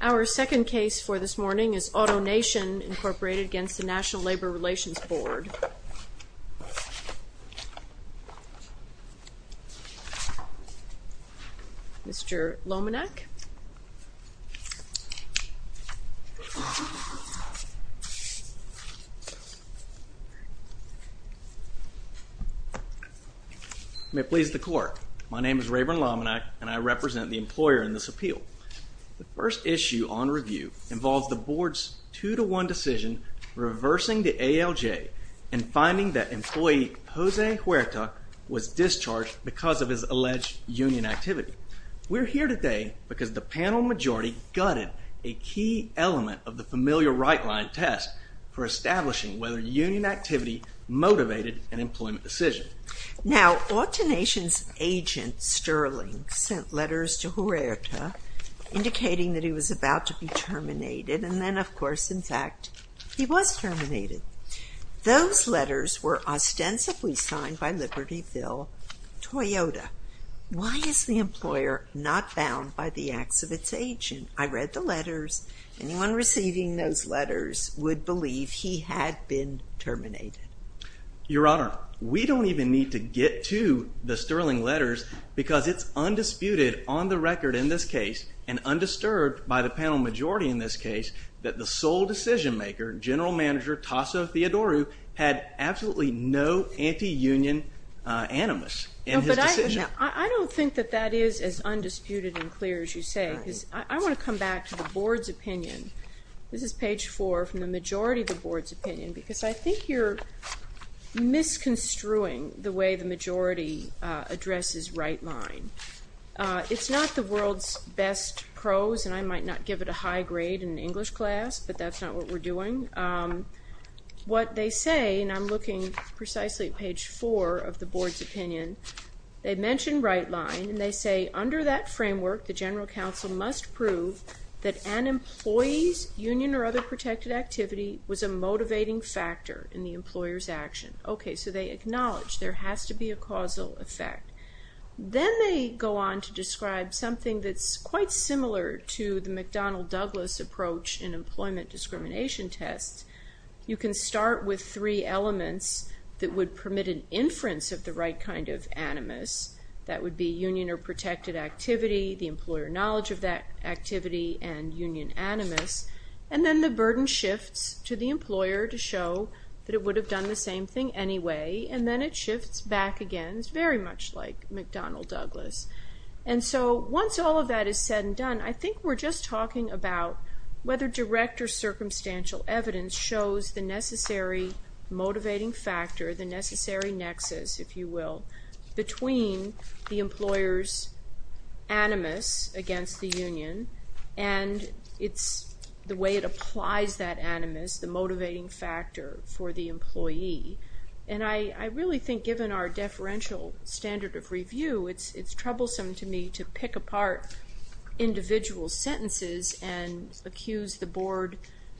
Our second case for this morning is AutoNation, Inc. v. NLRB. Mr. Lomanak. May it please the Court, my name is Rayburn Lomanak and I represent the employer in this appeal. The first issue on review involves the Board's two-to-one decision reversing the ALJ and finding that employee Jose Huerta was discharged because of his alleged union activity. We're here today because the panel majority gutted a key element of the familiar right-line test for establishing whether union activity motivated an employment decision. Now, AutoNation's agent, Sterling, sent letters to Huerta indicating that he was about to be terminated and then, of course, in fact, he was terminated. Those letters were ostensibly signed by Libertyville Toyota. Why is the employer not bound by the acts of its agent? I read the letters. Anyone receiving those letters would believe he had been terminated. Your Honor, we don't even need to get to the Sterling letters because it's undisputed on the record in this case and undisturbed by the panel majority in this case that the sole decision-maker, General Manager Tasso Theodoru, had absolutely no anti-union animus in his decision. I don't think that that is as undisputed and clear as you say because I want to come back to the Board's opinion. This is page 4 from the majority of the Board's opinion because I think you're misconstruing the way the majority addresses right-line. It's not the world's best prose, and I might not give it a high grade in an English class, but that's not what we're doing. What they say, and I'm looking precisely at page 4 of the Board's opinion, they mention right-line and they say, the General Counsel must prove that an employee's union or other protected activity was a motivating factor in the employer's action. Okay, so they acknowledge there has to be a causal effect. Then they go on to describe something that's quite similar to the McDonnell-Douglas approach in employment discrimination tests. You can start with three elements that would permit an inference of the right kind of animus. That would be union or protected activity, the employer knowledge of that activity, and union animus. And then the burden shifts to the employer to show that it would have done the same thing anyway, and then it shifts back again. It's very much like McDonnell-Douglas. And so once all of that is said and done, I think we're just talking about whether direct or circumstantial evidence shows the necessary motivating factor, the necessary nexus, if you will, between the employer's animus against the union and the way it applies that animus, the motivating factor for the employee. And I really think, given our deferential standard of review, it's troublesome to me to pick apart individual sentences and accuse the Board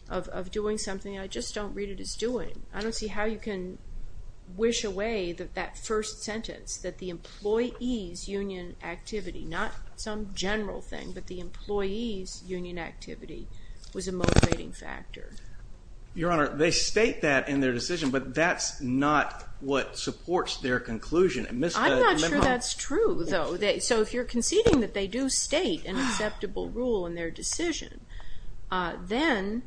of doing something I just don't read it as doing. I don't see how you can wish away that that first sentence, that the employee's union activity, not some general thing, but the employee's union activity was a motivating factor. Your Honor, they state that in their decision, but that's not what supports their conclusion. I'm not sure that's true, though. So if you're conceding that they do state an acceptable rule in their decision, then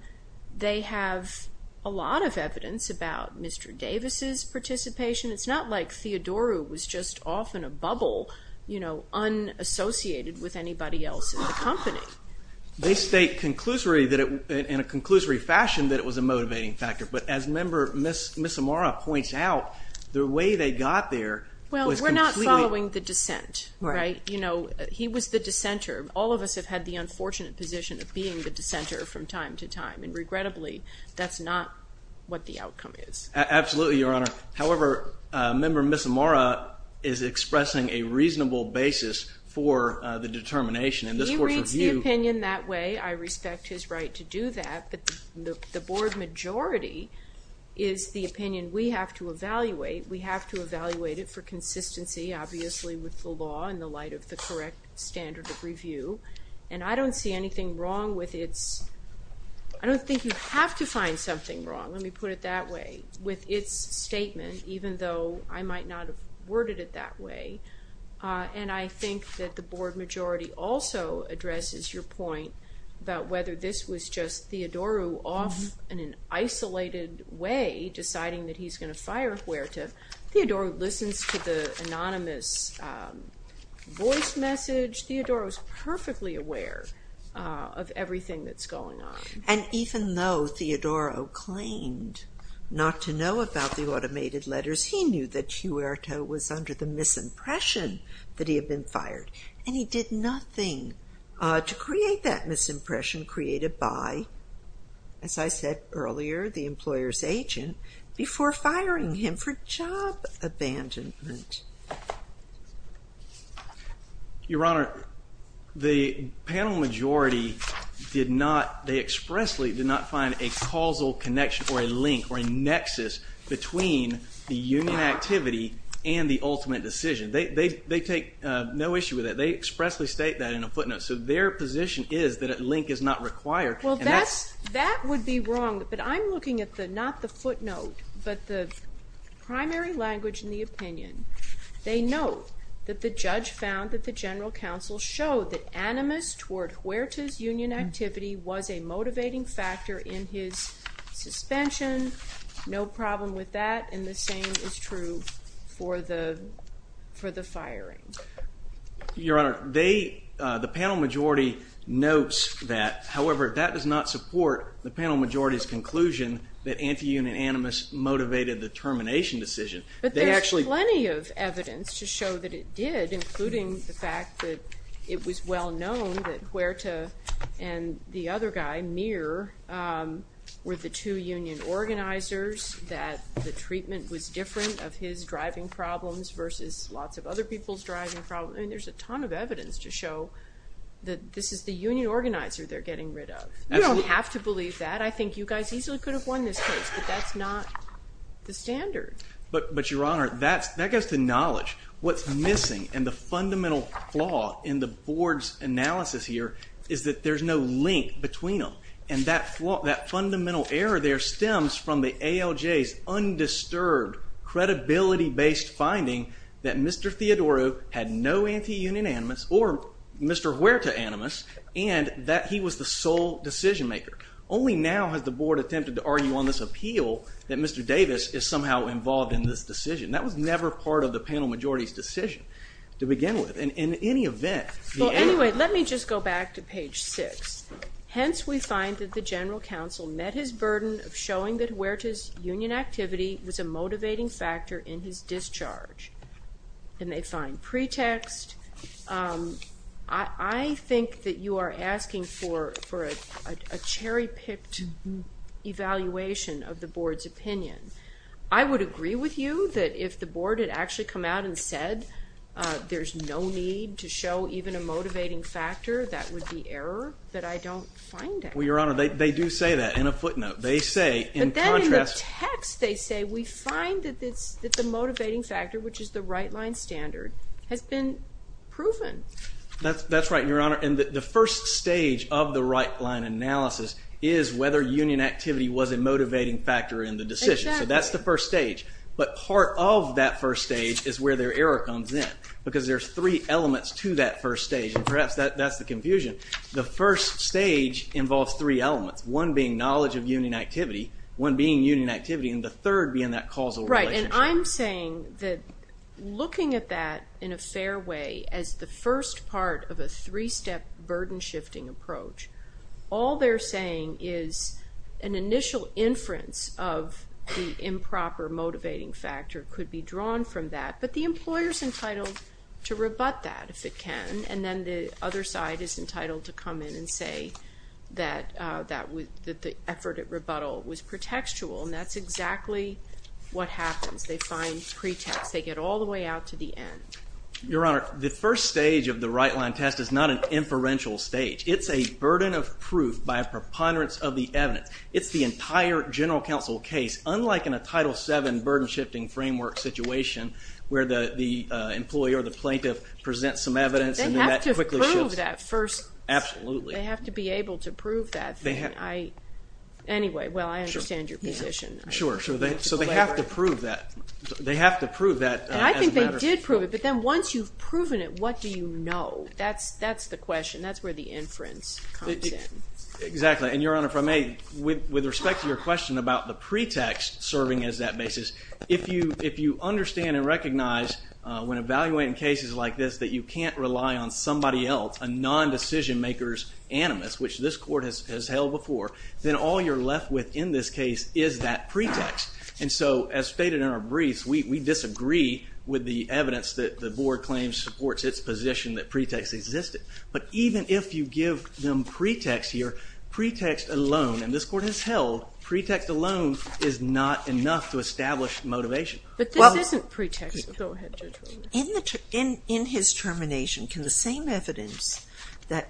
they have a lot of evidence about Mr. Davis' participation. It's not like Theodoru was just off in a bubble, you know, unassociated with anybody else in the company. They state in a conclusory fashion that it was a motivating factor, but as Member Misamara points out, the way they got there was completely... Well, we're not following the dissent, right? You know, he was the dissenter. All of us have had the unfortunate position of being the dissenter from time to time, and regrettably, that's not what the outcome is. Absolutely, Your Honor. However, Member Misamara is expressing a reasonable basis for the determination, and this Court's review... He reads the opinion that way. I respect his right to do that, but the Board majority is the opinion we have to evaluate. We have to evaluate it for consistency, obviously with the law in the light of the correct standard of review, and I don't see anything wrong with its... I don't think you have to find something wrong, let me put it that way, with its statement, even though I might not have worded it that way, and I think that the Board majority also addresses your point about whether this was just Theodoru off in an isolated way, deciding that he's going to fire Huerta. Theodoru listens to the anonymous voice message. Theodoru is perfectly aware of everything that's going on. And even though Theodoru claimed not to know about the automated letters, he knew that Huerta was under the misimpression that he had been fired, and he did nothing to create that misimpression created by, as I said earlier, the employer's agent before firing him for job abandonment. Your Honor, the panel majority did not, they expressly did not find a causal connection or a link or a nexus between the union activity and the ultimate decision. They take no issue with that. They expressly state that in a footnote, so their position is that a link is not required. Well, that would be wrong, but I'm looking at not the footnote, but the primary language in the opinion. They note that the judge found that the general counsel showed that animus toward Huerta's union activity was a motivating factor in his suspension. No problem with that, and the same is true for the firing. Your Honor, the panel majority notes that. However, that does not support the panel majority's conclusion that anti-union animus motivated the termination decision. But there's plenty of evidence to show that it did, including the fact that it was well-known that Huerta and the other guy, Mir, were the two union organizers, that the treatment was different of his driving problems versus lots of other people's driving problems, and there's a ton of evidence to show that this is the union organizer they're getting rid of. We have to believe that. I think you guys easily could have won this case, but that's not the standard. But, Your Honor, that goes to knowledge. What's missing in the fundamental flaw in the board's analysis here is that there's no link between them, and that fundamental error there stems from the ALJ's undisturbed, credibility-based finding that Mr. Theodoro had no anti-union animus or Mr. Huerta animus, and that he was the sole decision-maker. Only now has the board attempted to argue on this appeal that Mr. Davis is somehow involved in this decision. That was never part of the panel majority's decision to begin with. In any event, the animus- Well, anyway, let me just go back to page 6. Hence, we find that the general counsel met his burden of showing that Huerta's union activity was a motivating factor in his discharge. Then they find pretext. I think that you are asking for a cherry-picked evaluation of the board's opinion. I would agree with you that if the board had actually come out and said there's no need to show even a motivating factor, that would be error that I don't find at all. Well, Your Honor, they do say that in a footnote. They say, in contrast- has been proven. That's right, Your Honor. The first stage of the right-line analysis is whether union activity was a motivating factor in the decision. Exactly. That's the first stage. But part of that first stage is where their error comes in because there's three elements to that first stage. Perhaps that's the confusion. The first stage involves three elements, one being knowledge of union activity, one being union activity, and the third being that causal relationship. I'm saying that looking at that in a fair way as the first part of a three-step burden-shifting approach, all they're saying is an initial inference of the improper motivating factor could be drawn from that, but the employer's entitled to rebut that if it can, and then the other side is entitled to come in and say that the effort at rebuttal was pretextual, and that's exactly what happens. They find pretext. They get all the way out to the end. Your Honor, the first stage of the right-line test is not an inferential stage. It's a burden of proof by a preponderance of the evidence. It's the entire general counsel case, unlike in a Title VII burden-shifting framework situation where the employee or the plaintiff presents some evidence and then that quickly shifts. They have to prove that first. Absolutely. They have to be able to prove that. Anyway, well, I understand your position. Sure, sure. So they have to prove that as a matter of fact. And I think they did prove it, but then once you've proven it, what do you know? That's the question. That's where the inference comes in. Exactly, and Your Honor, if I may, with respect to your question about the pretext serving as that basis, if you understand and recognize when evaluating cases like this that you can't rely on somebody else, a non-decision-maker's animus, which this Court has held before, then all you're left with in this case is that pretext. And so, as stated in our briefs, we disagree with the evidence that the Board claims supports its position that pretext existed. But even if you give them pretext here, pretext alone, and this Court has held pretext alone is not enough to establish motivation. But this isn't pretext. Go ahead, Judge Walton. In his termination, can the same evidence that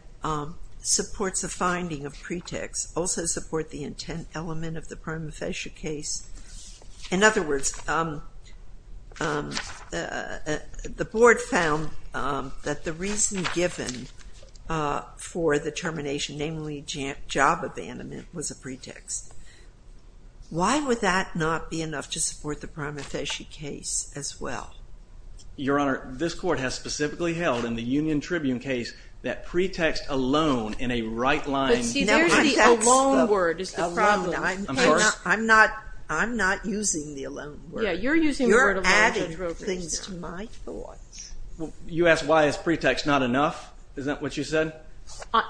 supports a finding of pretext also support the intent element of the prima facie case? In other words, the Board found that the reason given for the termination, namely job abandonment, was a pretext. Why would that not be enough to support the prima facie case as well? Your Honor, this Court has specifically held in the Union Tribune case that pretext alone in a right-line context. But see, there's the alone word is the problem. Alone. Of course. I'm not using the alone word. Yeah, you're using the word alone, Judge Roper. You're adding things to my thoughts. You asked why is pretext not enough? Is that what you said?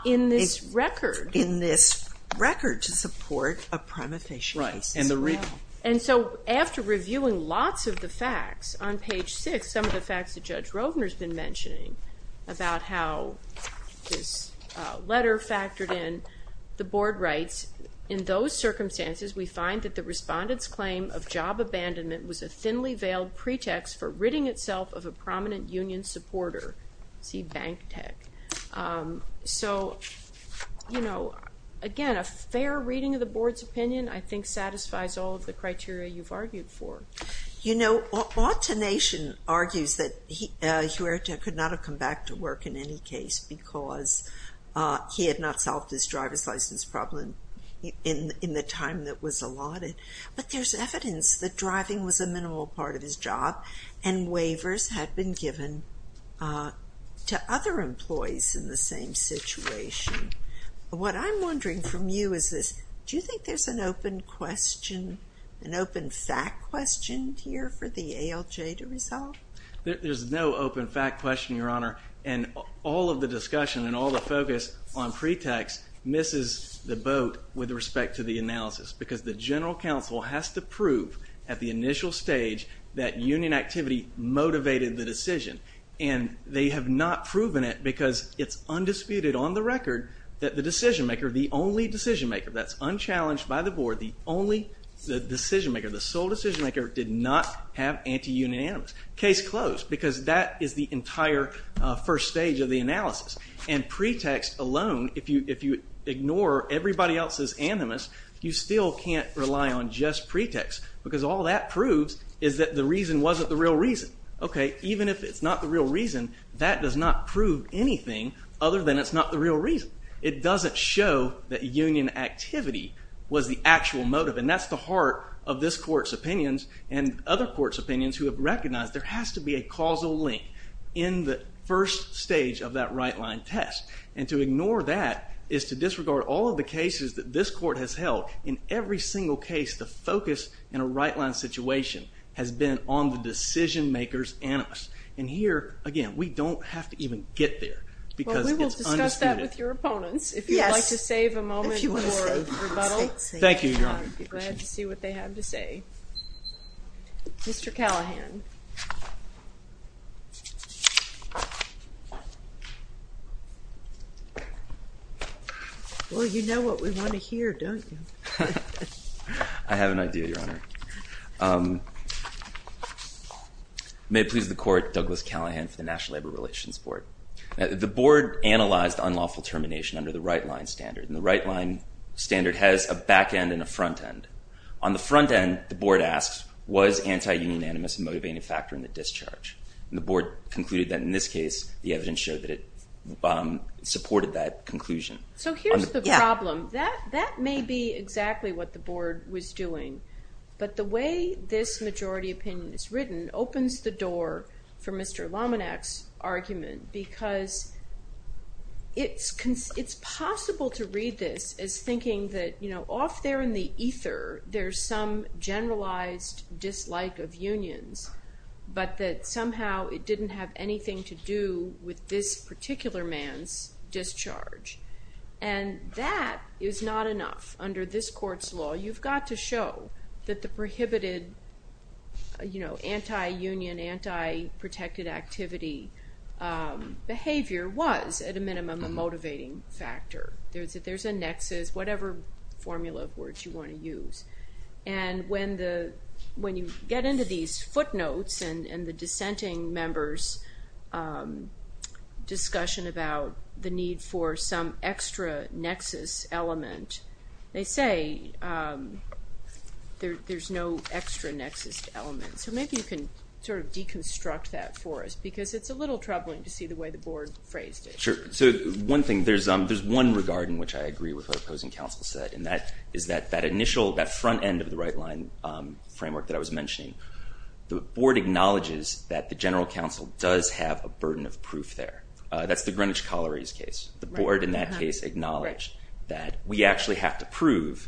In this record. In this record to support a prima facie case. Right. And so, after reviewing lots of the facts on page 6, some of the facts that Judge Rovner's been mentioning about how this letter factored in, the Board writes, in those circumstances, we find that the respondent's claim of job abandonment was a thinly veiled pretext for ridding itself of a prominent Union supporter. See, bank tech. So, you know, again, a fair reading of the Board's opinion, I think, satisfies all of the criteria you've argued for. You know, Autonation argues that Huerta could not have come back to work in any case because he had not solved his driver's license problem in the time that was allotted. But there's evidence that driving was a minimal part of his job and waivers had been given to other employees in the same situation. What I'm wondering from you is this. Do you think there's an open question, an open fact question here for the ALJ to resolve? There's no open fact question, Your Honor, and all of the discussion and all the focus on pretext misses the boat with respect to the analysis because the General Counsel has to prove at the initial stage that Union activity motivated the decision. And they have not proven it because it's undisputed on the record that the decision-maker, the only decision-maker, that's unchallenged by the Board, the only decision-maker, the sole decision-maker did not have anti-Union animus. Case closed because that is the entire first stage of the analysis. And pretext alone, if you ignore everybody else's animus, you still can't rely on just pretext because all that proves is that the reason wasn't the real reason. Okay, even if it's not the real reason, that does not prove anything other than it's not the real reason. It doesn't show that Union activity was the actual motive, and that's the heart of this Court's opinions and other Courts' opinions who have recognized there has to be a causal link in the first stage of that right-line test. And to ignore that is to disregard all of the cases that this Court has held. In every single case, the focus in a right-line situation has been on the decision-makers' animus. And here, again, we don't have to even get there because it's undisputed. Well, we will discuss that with your opponents if you'd like to save a moment for a rebuttal. Thank you, Your Honor. I'd be glad to see what they have to say. Mr. Callahan. Well, you know what we want to hear, don't you? I have an idea, Your Honor. May it please the Court, Douglas Callahan for the National Labor Relations Board. The Board analyzed unlawful termination under the right-line standard, and the right-line standard has a back-end and a front-end. On the front-end, the Board asks, was anti-union animus a motivating factor in the discharge? And the Board concluded that in this case, the evidence showed that it supported that conclusion. So here's the problem. That may be exactly what the Board was doing, but the way this majority opinion is written opens the door for Mr. Lominak's argument because it's possible to read this as thinking that, you know, off there in the ether, there's some generalized dislike of unions, but that somehow it didn't have anything to do with this particular man's discharge. And that is not enough. Under this Court's law, you've got to show that the prohibited, you know, anti-union, anti-protected activity behavior was, at a minimum, a motivating factor. There's a nexus, which is whatever formula of words you want to use. And when you get into these footnotes and the dissenting members' discussion about the need for some extra nexus element, they say there's no extra nexus element. So maybe you can sort of deconstruct that for us because it's a little troubling to see the way the Board phrased it. Sure. So one thing, there's one regard in which I agree with what Opposing Counsel said, and that is that that initial, that front end of the right-line framework that I was mentioning, the Board acknowledges that the General Counsel does have a burden of proof there. That's the Greenwich Colliery's case. The Board in that case acknowledged that we actually have to prove,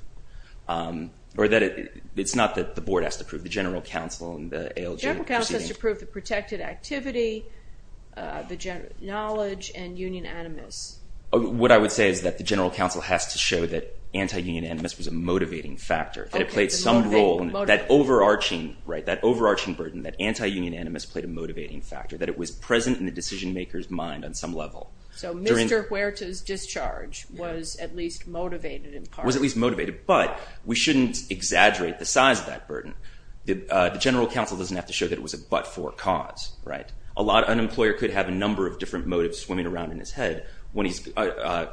or that it's not that the Board has to prove, the General Counsel and the ALJ... General Counsel has to prove the protected activity, knowledge, and union animus. What I would say is that the General Counsel has to show that anti-union animus was a motivating factor, that it played some role in that overarching burden, that anti-union animus played a motivating factor, that it was present in the decision-maker's mind on some level. So Mr. Huerta's discharge was at least motivated in part. Was at least motivated, but we shouldn't exaggerate the size of that burden. The General Counsel doesn't have to show that it was a but-for cause. An employer could have a number of different motives swimming around in his head when he's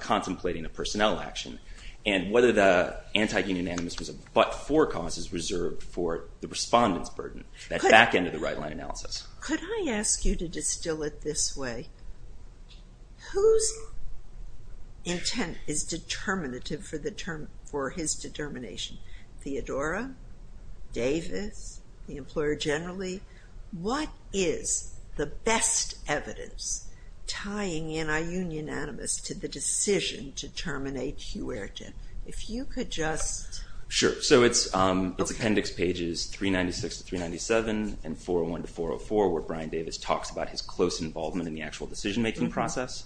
contemplating a personnel action. And whether the anti-union animus was a but-for cause is reserved for the respondent's burden, that back end of the right-line analysis. Could I ask you to distill it this way? Whose intent is determinative for his determination? Theodora, Davis, the employer generally? What is the best evidence tying anti-union animus to the decision to terminate Huerta? If you could just... Sure. So it's appendix pages 396 to 397 and 401 to 404 where Brian Davis talks about his close involvement in the actual decision-making process.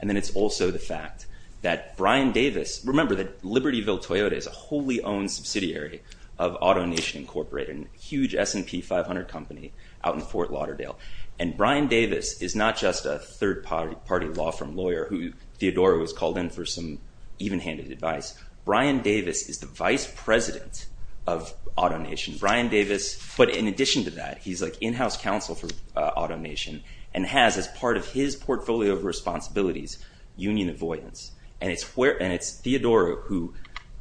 And then it's also the fact that Brian Davis... Remember that Libertyville Toyota is a wholly-owned subsidiary of AutoNation Incorporated, a huge S&P 500 company out in Fort Lauderdale. And Brian Davis is not just a third-party law firm lawyer who Theodora has called in for some even-handed advice. Brian Davis is the vice president of AutoNation. Brian Davis... But in addition to that, he's, like, in-house counsel for AutoNation and has as part of his portfolio of responsibilities union avoidance. And it's Theodora who,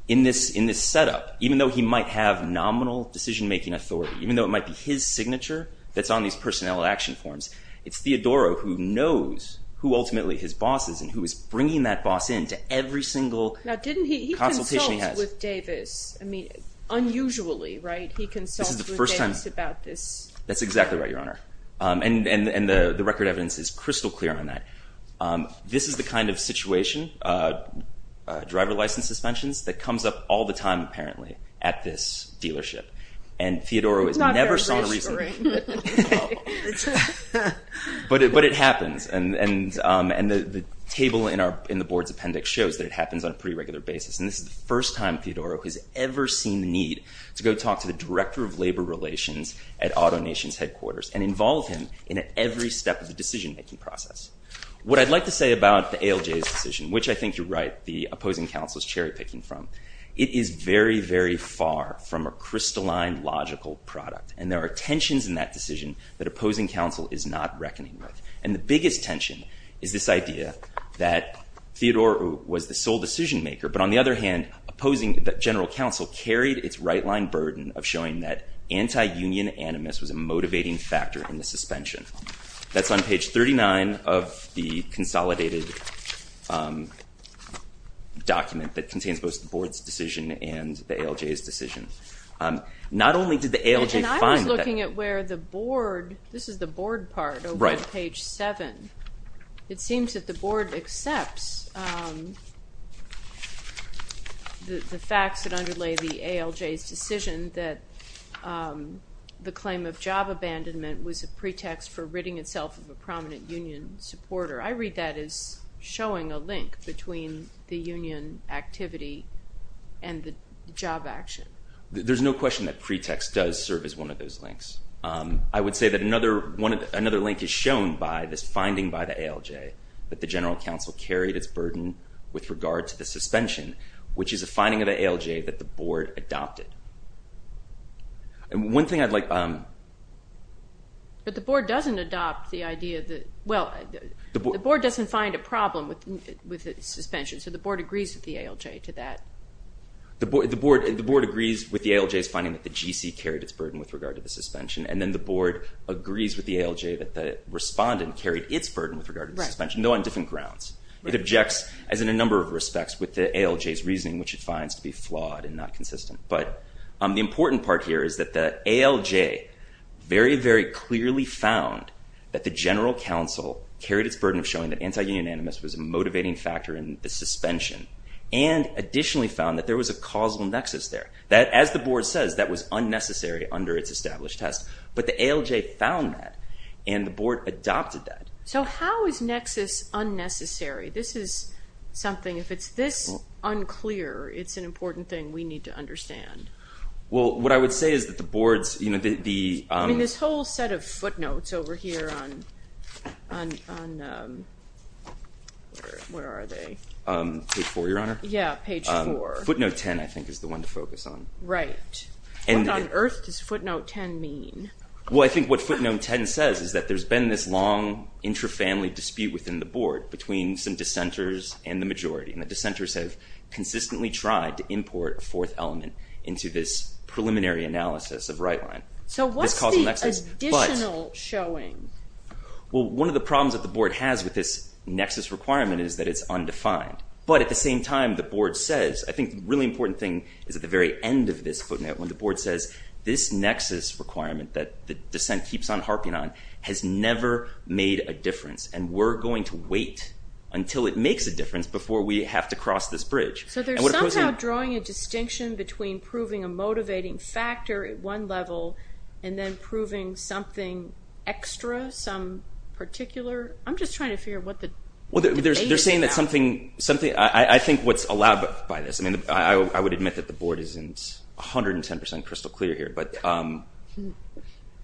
in this setup, even though he might have nominal decision-making authority, even though it might be his signature that's on these personnel action forms, it's Theodora who knows who ultimately his boss is and who is bringing that boss in to every single... Now, didn't he consult with Davis? I mean, unusually, right? He consults with Davis about this. That's exactly right, Your Honor. And the record evidence is crystal clear on that. This is the kind of situation, driver license suspensions, that comes up all the time, apparently, at this dealership. And Theodora has never saw... Not very recently. But it happens. And the table in the board's appendix shows that it happens on a pretty regular basis. And this is the first time Theodora has ever seen the need to go talk to the director of labor relations at AutoNation's headquarters and involve him in every step of the decision-making process. What I'd like to say about the ALJ's decision, which I think you're right, the opposing counsel's cherry-picking from, it is very, very far from a crystalline, logical product. And there are tensions in that decision that opposing counsel is not reckoning with. And the biggest tension is this idea that Theodora was the sole decision-maker, but on the other hand, opposing... that general counsel carried its right-line burden of showing that anti-union animus was a motivating factor in the suspension. That's on page 39 of the consolidated document that contains both the board's decision and the ALJ's decision. Not only did the ALJ find that... And I was looking at where the board... This is the board part over at page 7. It seems that the board accepts the facts that underlay the ALJ's decision that the claim of job abandonment was a pretext for ridding itself of a prominent union supporter. I read that as showing a link between the union activity and the job action. There's no question that pretext does serve as one of those links. I would say that another link is shown by this finding by the ALJ that the general counsel carried its burden with regard to the suspension, which is a finding of the ALJ that the board adopted. One thing I'd like... But the board doesn't adopt the idea that... Well, the board doesn't find a problem with the suspension, so the board agrees with the ALJ to that. The board agrees with the ALJ's finding that the GC carried its burden with regard to the suspension, and then the board agrees with the ALJ that the respondent carried its burden with regard to the suspension, though on different grounds. It objects, as in a number of respects, with the ALJ's reasoning, which it finds to be flawed and not consistent. But the important part here is that the ALJ very, very clearly found that the general counsel carried its burden of showing that anti-union animus was a motivating factor in the suspension and additionally found that there was a causal nexus there. As the board says, that was unnecessary under its established test, but the ALJ found that, and the board adopted that. So how is nexus unnecessary? This is something... If it's this unclear, it's an important thing we need to understand. Well, what I would say is that the board's... I mean, this whole set of footnotes over here on... Where are they? Page 4, Your Honor. Yeah, page 4. Footnote 10, I think, is the one to focus on. Right. What on earth does footnote 10 mean? Well, I think what footnote 10 says is that there's been this long, intrafamily dispute within the board between some dissenters and the majority, and the dissenters have consistently tried to import a fourth element into this preliminary analysis of right line. So what's the additional showing? Well, one of the problems that the board has with this nexus requirement is that it's undefined. But at the same time, the board says... I think the really important thing is at the very end of this footnote when the board says, this nexus requirement that the dissent keeps on harping on has never made a difference, and we're going to wait until it makes a difference before we have to cross this bridge. So they're somehow drawing a distinction between proving a motivating factor at one level and then proving something extra, some particular... I'm just trying to figure out what the data is now. They're saying that something... I think what's allowed by this... I would admit that the board isn't 110% crystal clear here, but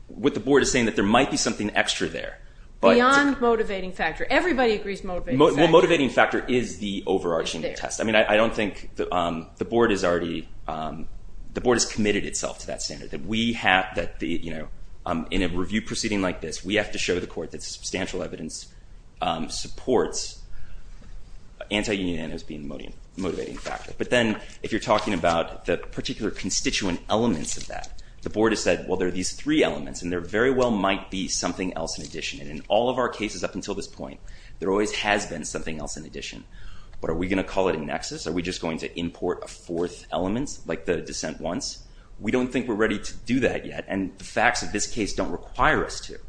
what the board is saying is that there might be something extra there. Beyond motivating factor. Everybody agrees motivating factor. Well, motivating factor is the overarching test. I mean, I don't think... The board is already... The board has committed itself to that standard. That we have... In a review proceeding like this, we have to show the court that substantial evidence supports anti-union as being a motivating factor. But then if you're talking about the particular constituent elements of that, the board has said, well, there are these three elements and there very well might be something else in addition. And in all of our cases up until this point, there always has been something else in addition. But are we going to call it a nexus? Are we just going to import a fourth element, like the dissent wants? We don't think we're ready to do that yet. And the facts of this case don't require us to.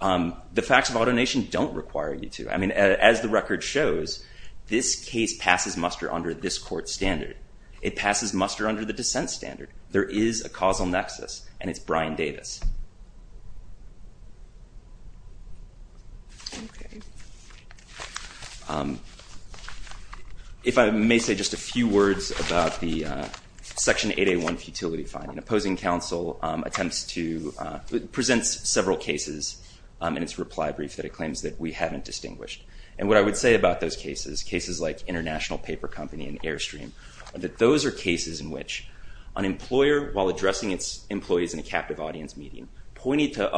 The facts of alternation don't require you to. I mean, as the record shows, this case passes muster under this court standard. It passes muster under the dissent standard. There is a causal nexus and it's Brian Davis. If I may say just a few words about the Section 8A1 futility finding. Opposing counsel attempts to, presents several cases in its reply brief that it claims that we haven't distinguished. And what I would say about those cases, cases like International Paper Company in which an employer, while addressing its employees in a captive audience, may not be able to make a decision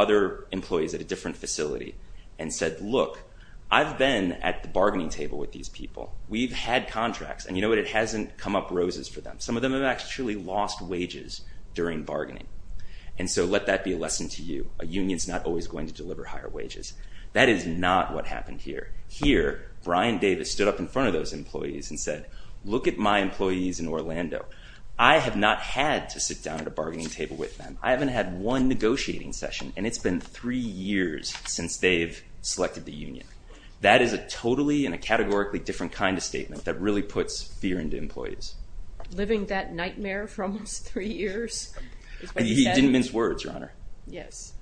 based on the facts of the case. In fact, at a bargaining meeting, pointed to other employees at a different facility and said, look, I've been at the bargaining table with these people. We've had contracts. And you know what? It hasn't come up roses for them. Some of them have actually lost wages during bargaining. And so let that be a lesson to you. A union's not always going to deliver higher wages. That is not what happened here. Here, Brian Davis stood up in front of those employees and said, look at my employees in Orlando. I have not had to sit down at a bargaining table with them. I haven't had one negotiating session. And it's been three years since they've selected the union. That is a totally and a categorically different kind of statement that really puts fear into employees. Living that nightmare for almost three years. He didn't mince words, Your Honor. Yes.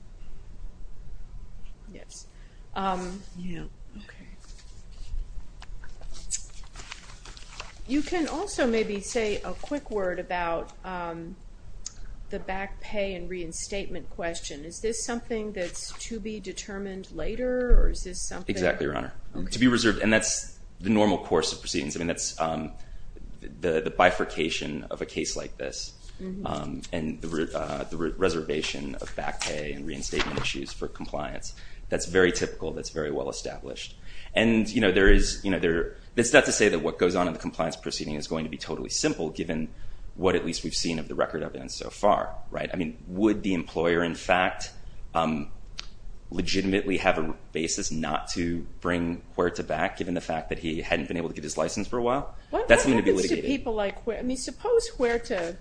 Yes. You can also maybe say a quick word about the back pay and reinstatement question. Is this something that's to be determined later? Or is this something... Exactly, Your Honor. To be reserved. And that's the normal course of proceedings. I mean, that's the bifurcation of a case like this. And the reservation of back pay and reinstatement issues for compliance. That's very typical. That's very well established. And, you know, there is... It's not to say that what goes on in the compliance proceeding is going to be totally simple given what at least we've seen of the record of evidence so far. Right? I mean, would the employer in fact legitimately have a basis not to bring Huerta back given the fact that he hadn't been able to get his license for a while? What happens to people like Huerta? I mean, suppose Huerta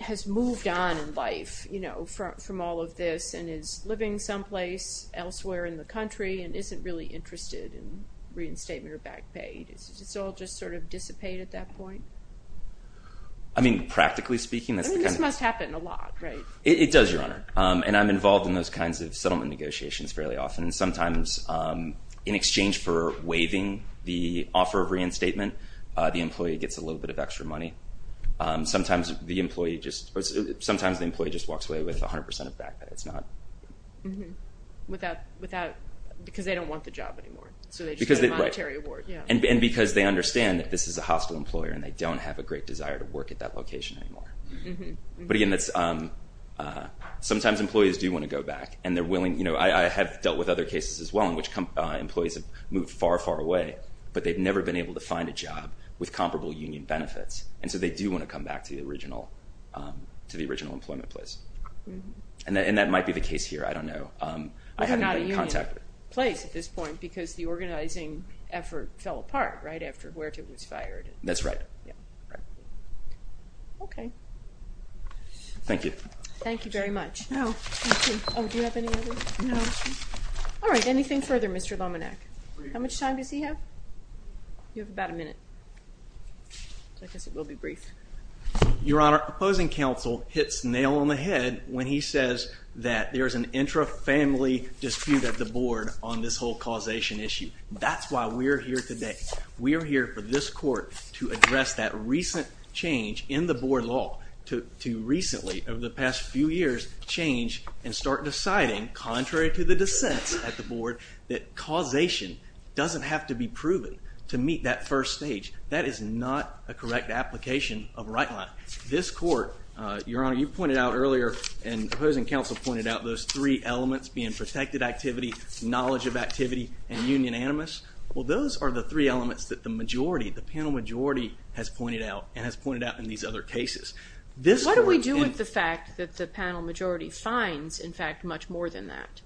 has moved on in life, you know, from all of this and is living someplace elsewhere in the country and isn't really interested in reinstatement or back pay. Does it all just sort of dissipate at that point? I mean, practically speaking, that's the kind of... I mean, this must happen a lot, right? It does, Your Honor. And I'm involved in those kinds of settlement negotiations fairly often. Sometimes in exchange for waiving the offer of reinstatement, the employee gets a little bit of extra money. Sometimes the employee just... Sometimes the employee just walks away with 100% of back pay. It's not... Mm-hmm. Without... Because they don't want the job anymore. So they just get a monetary award. And because they understand that this is a hostile employer and they don't have a great desire to work at that location anymore. Mm-hmm. But again, that's... Sometimes employees do want to go back and they're willing... You know, I have dealt with other cases as well in which employees have moved far, far away, but they've never been able to find a job with comparable union benefits. And so they do want to come back to the original... to the original employment place. Mm-hmm. And that might be the case here. I don't know. I haven't been in contact with... They're not a union place at this point because the organizing effort fell apart, right, after Huerta was fired. That's right. Yeah. Okay. Thank you. Thank you very much. No, thank you. Oh, do you have any other questions? No. All right, anything further, Mr. Lominack? How much time does he have? You have about a minute. I guess it will be brief. Your Honor, opposing counsel hits nail on the head when he says that there's an intra-family dispute at the board on this whole causation issue. That's why we're here today. We're here for this court to address that recent change in the board law to recently, over the past few years, change and start deciding, contrary to the dissents at the board, that causation doesn't have to be proven to meet that first stage. That is not a correct application of right line. This court, Your Honor, you pointed out earlier and opposing counsel pointed out those three elements, being protected activity, knowledge of activity, and union animus. Well, those are the three elements that the majority, the panel majority, has pointed out and has pointed out in these other cases. What do we do with the fact that the panel majority finds, in fact, much more than that?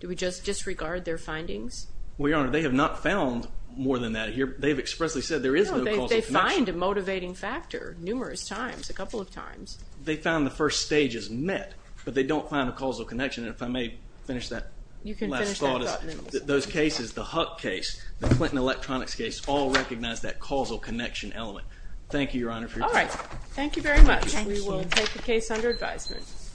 Do we just disregard their findings? Well, Your Honor, they have not found more than that here. They've expressly said there is no causal connection. They find a motivating factor numerous times, a couple of times. They found the first stages met, but they don't find a causal connection. If I may finish that last thought. You can finish that thought. Those cases, the Huck case, the Clinton Electronics case, all recognize that causal connection element. Thank you, Your Honor, for your time. All right. Thank you very much. We will take the case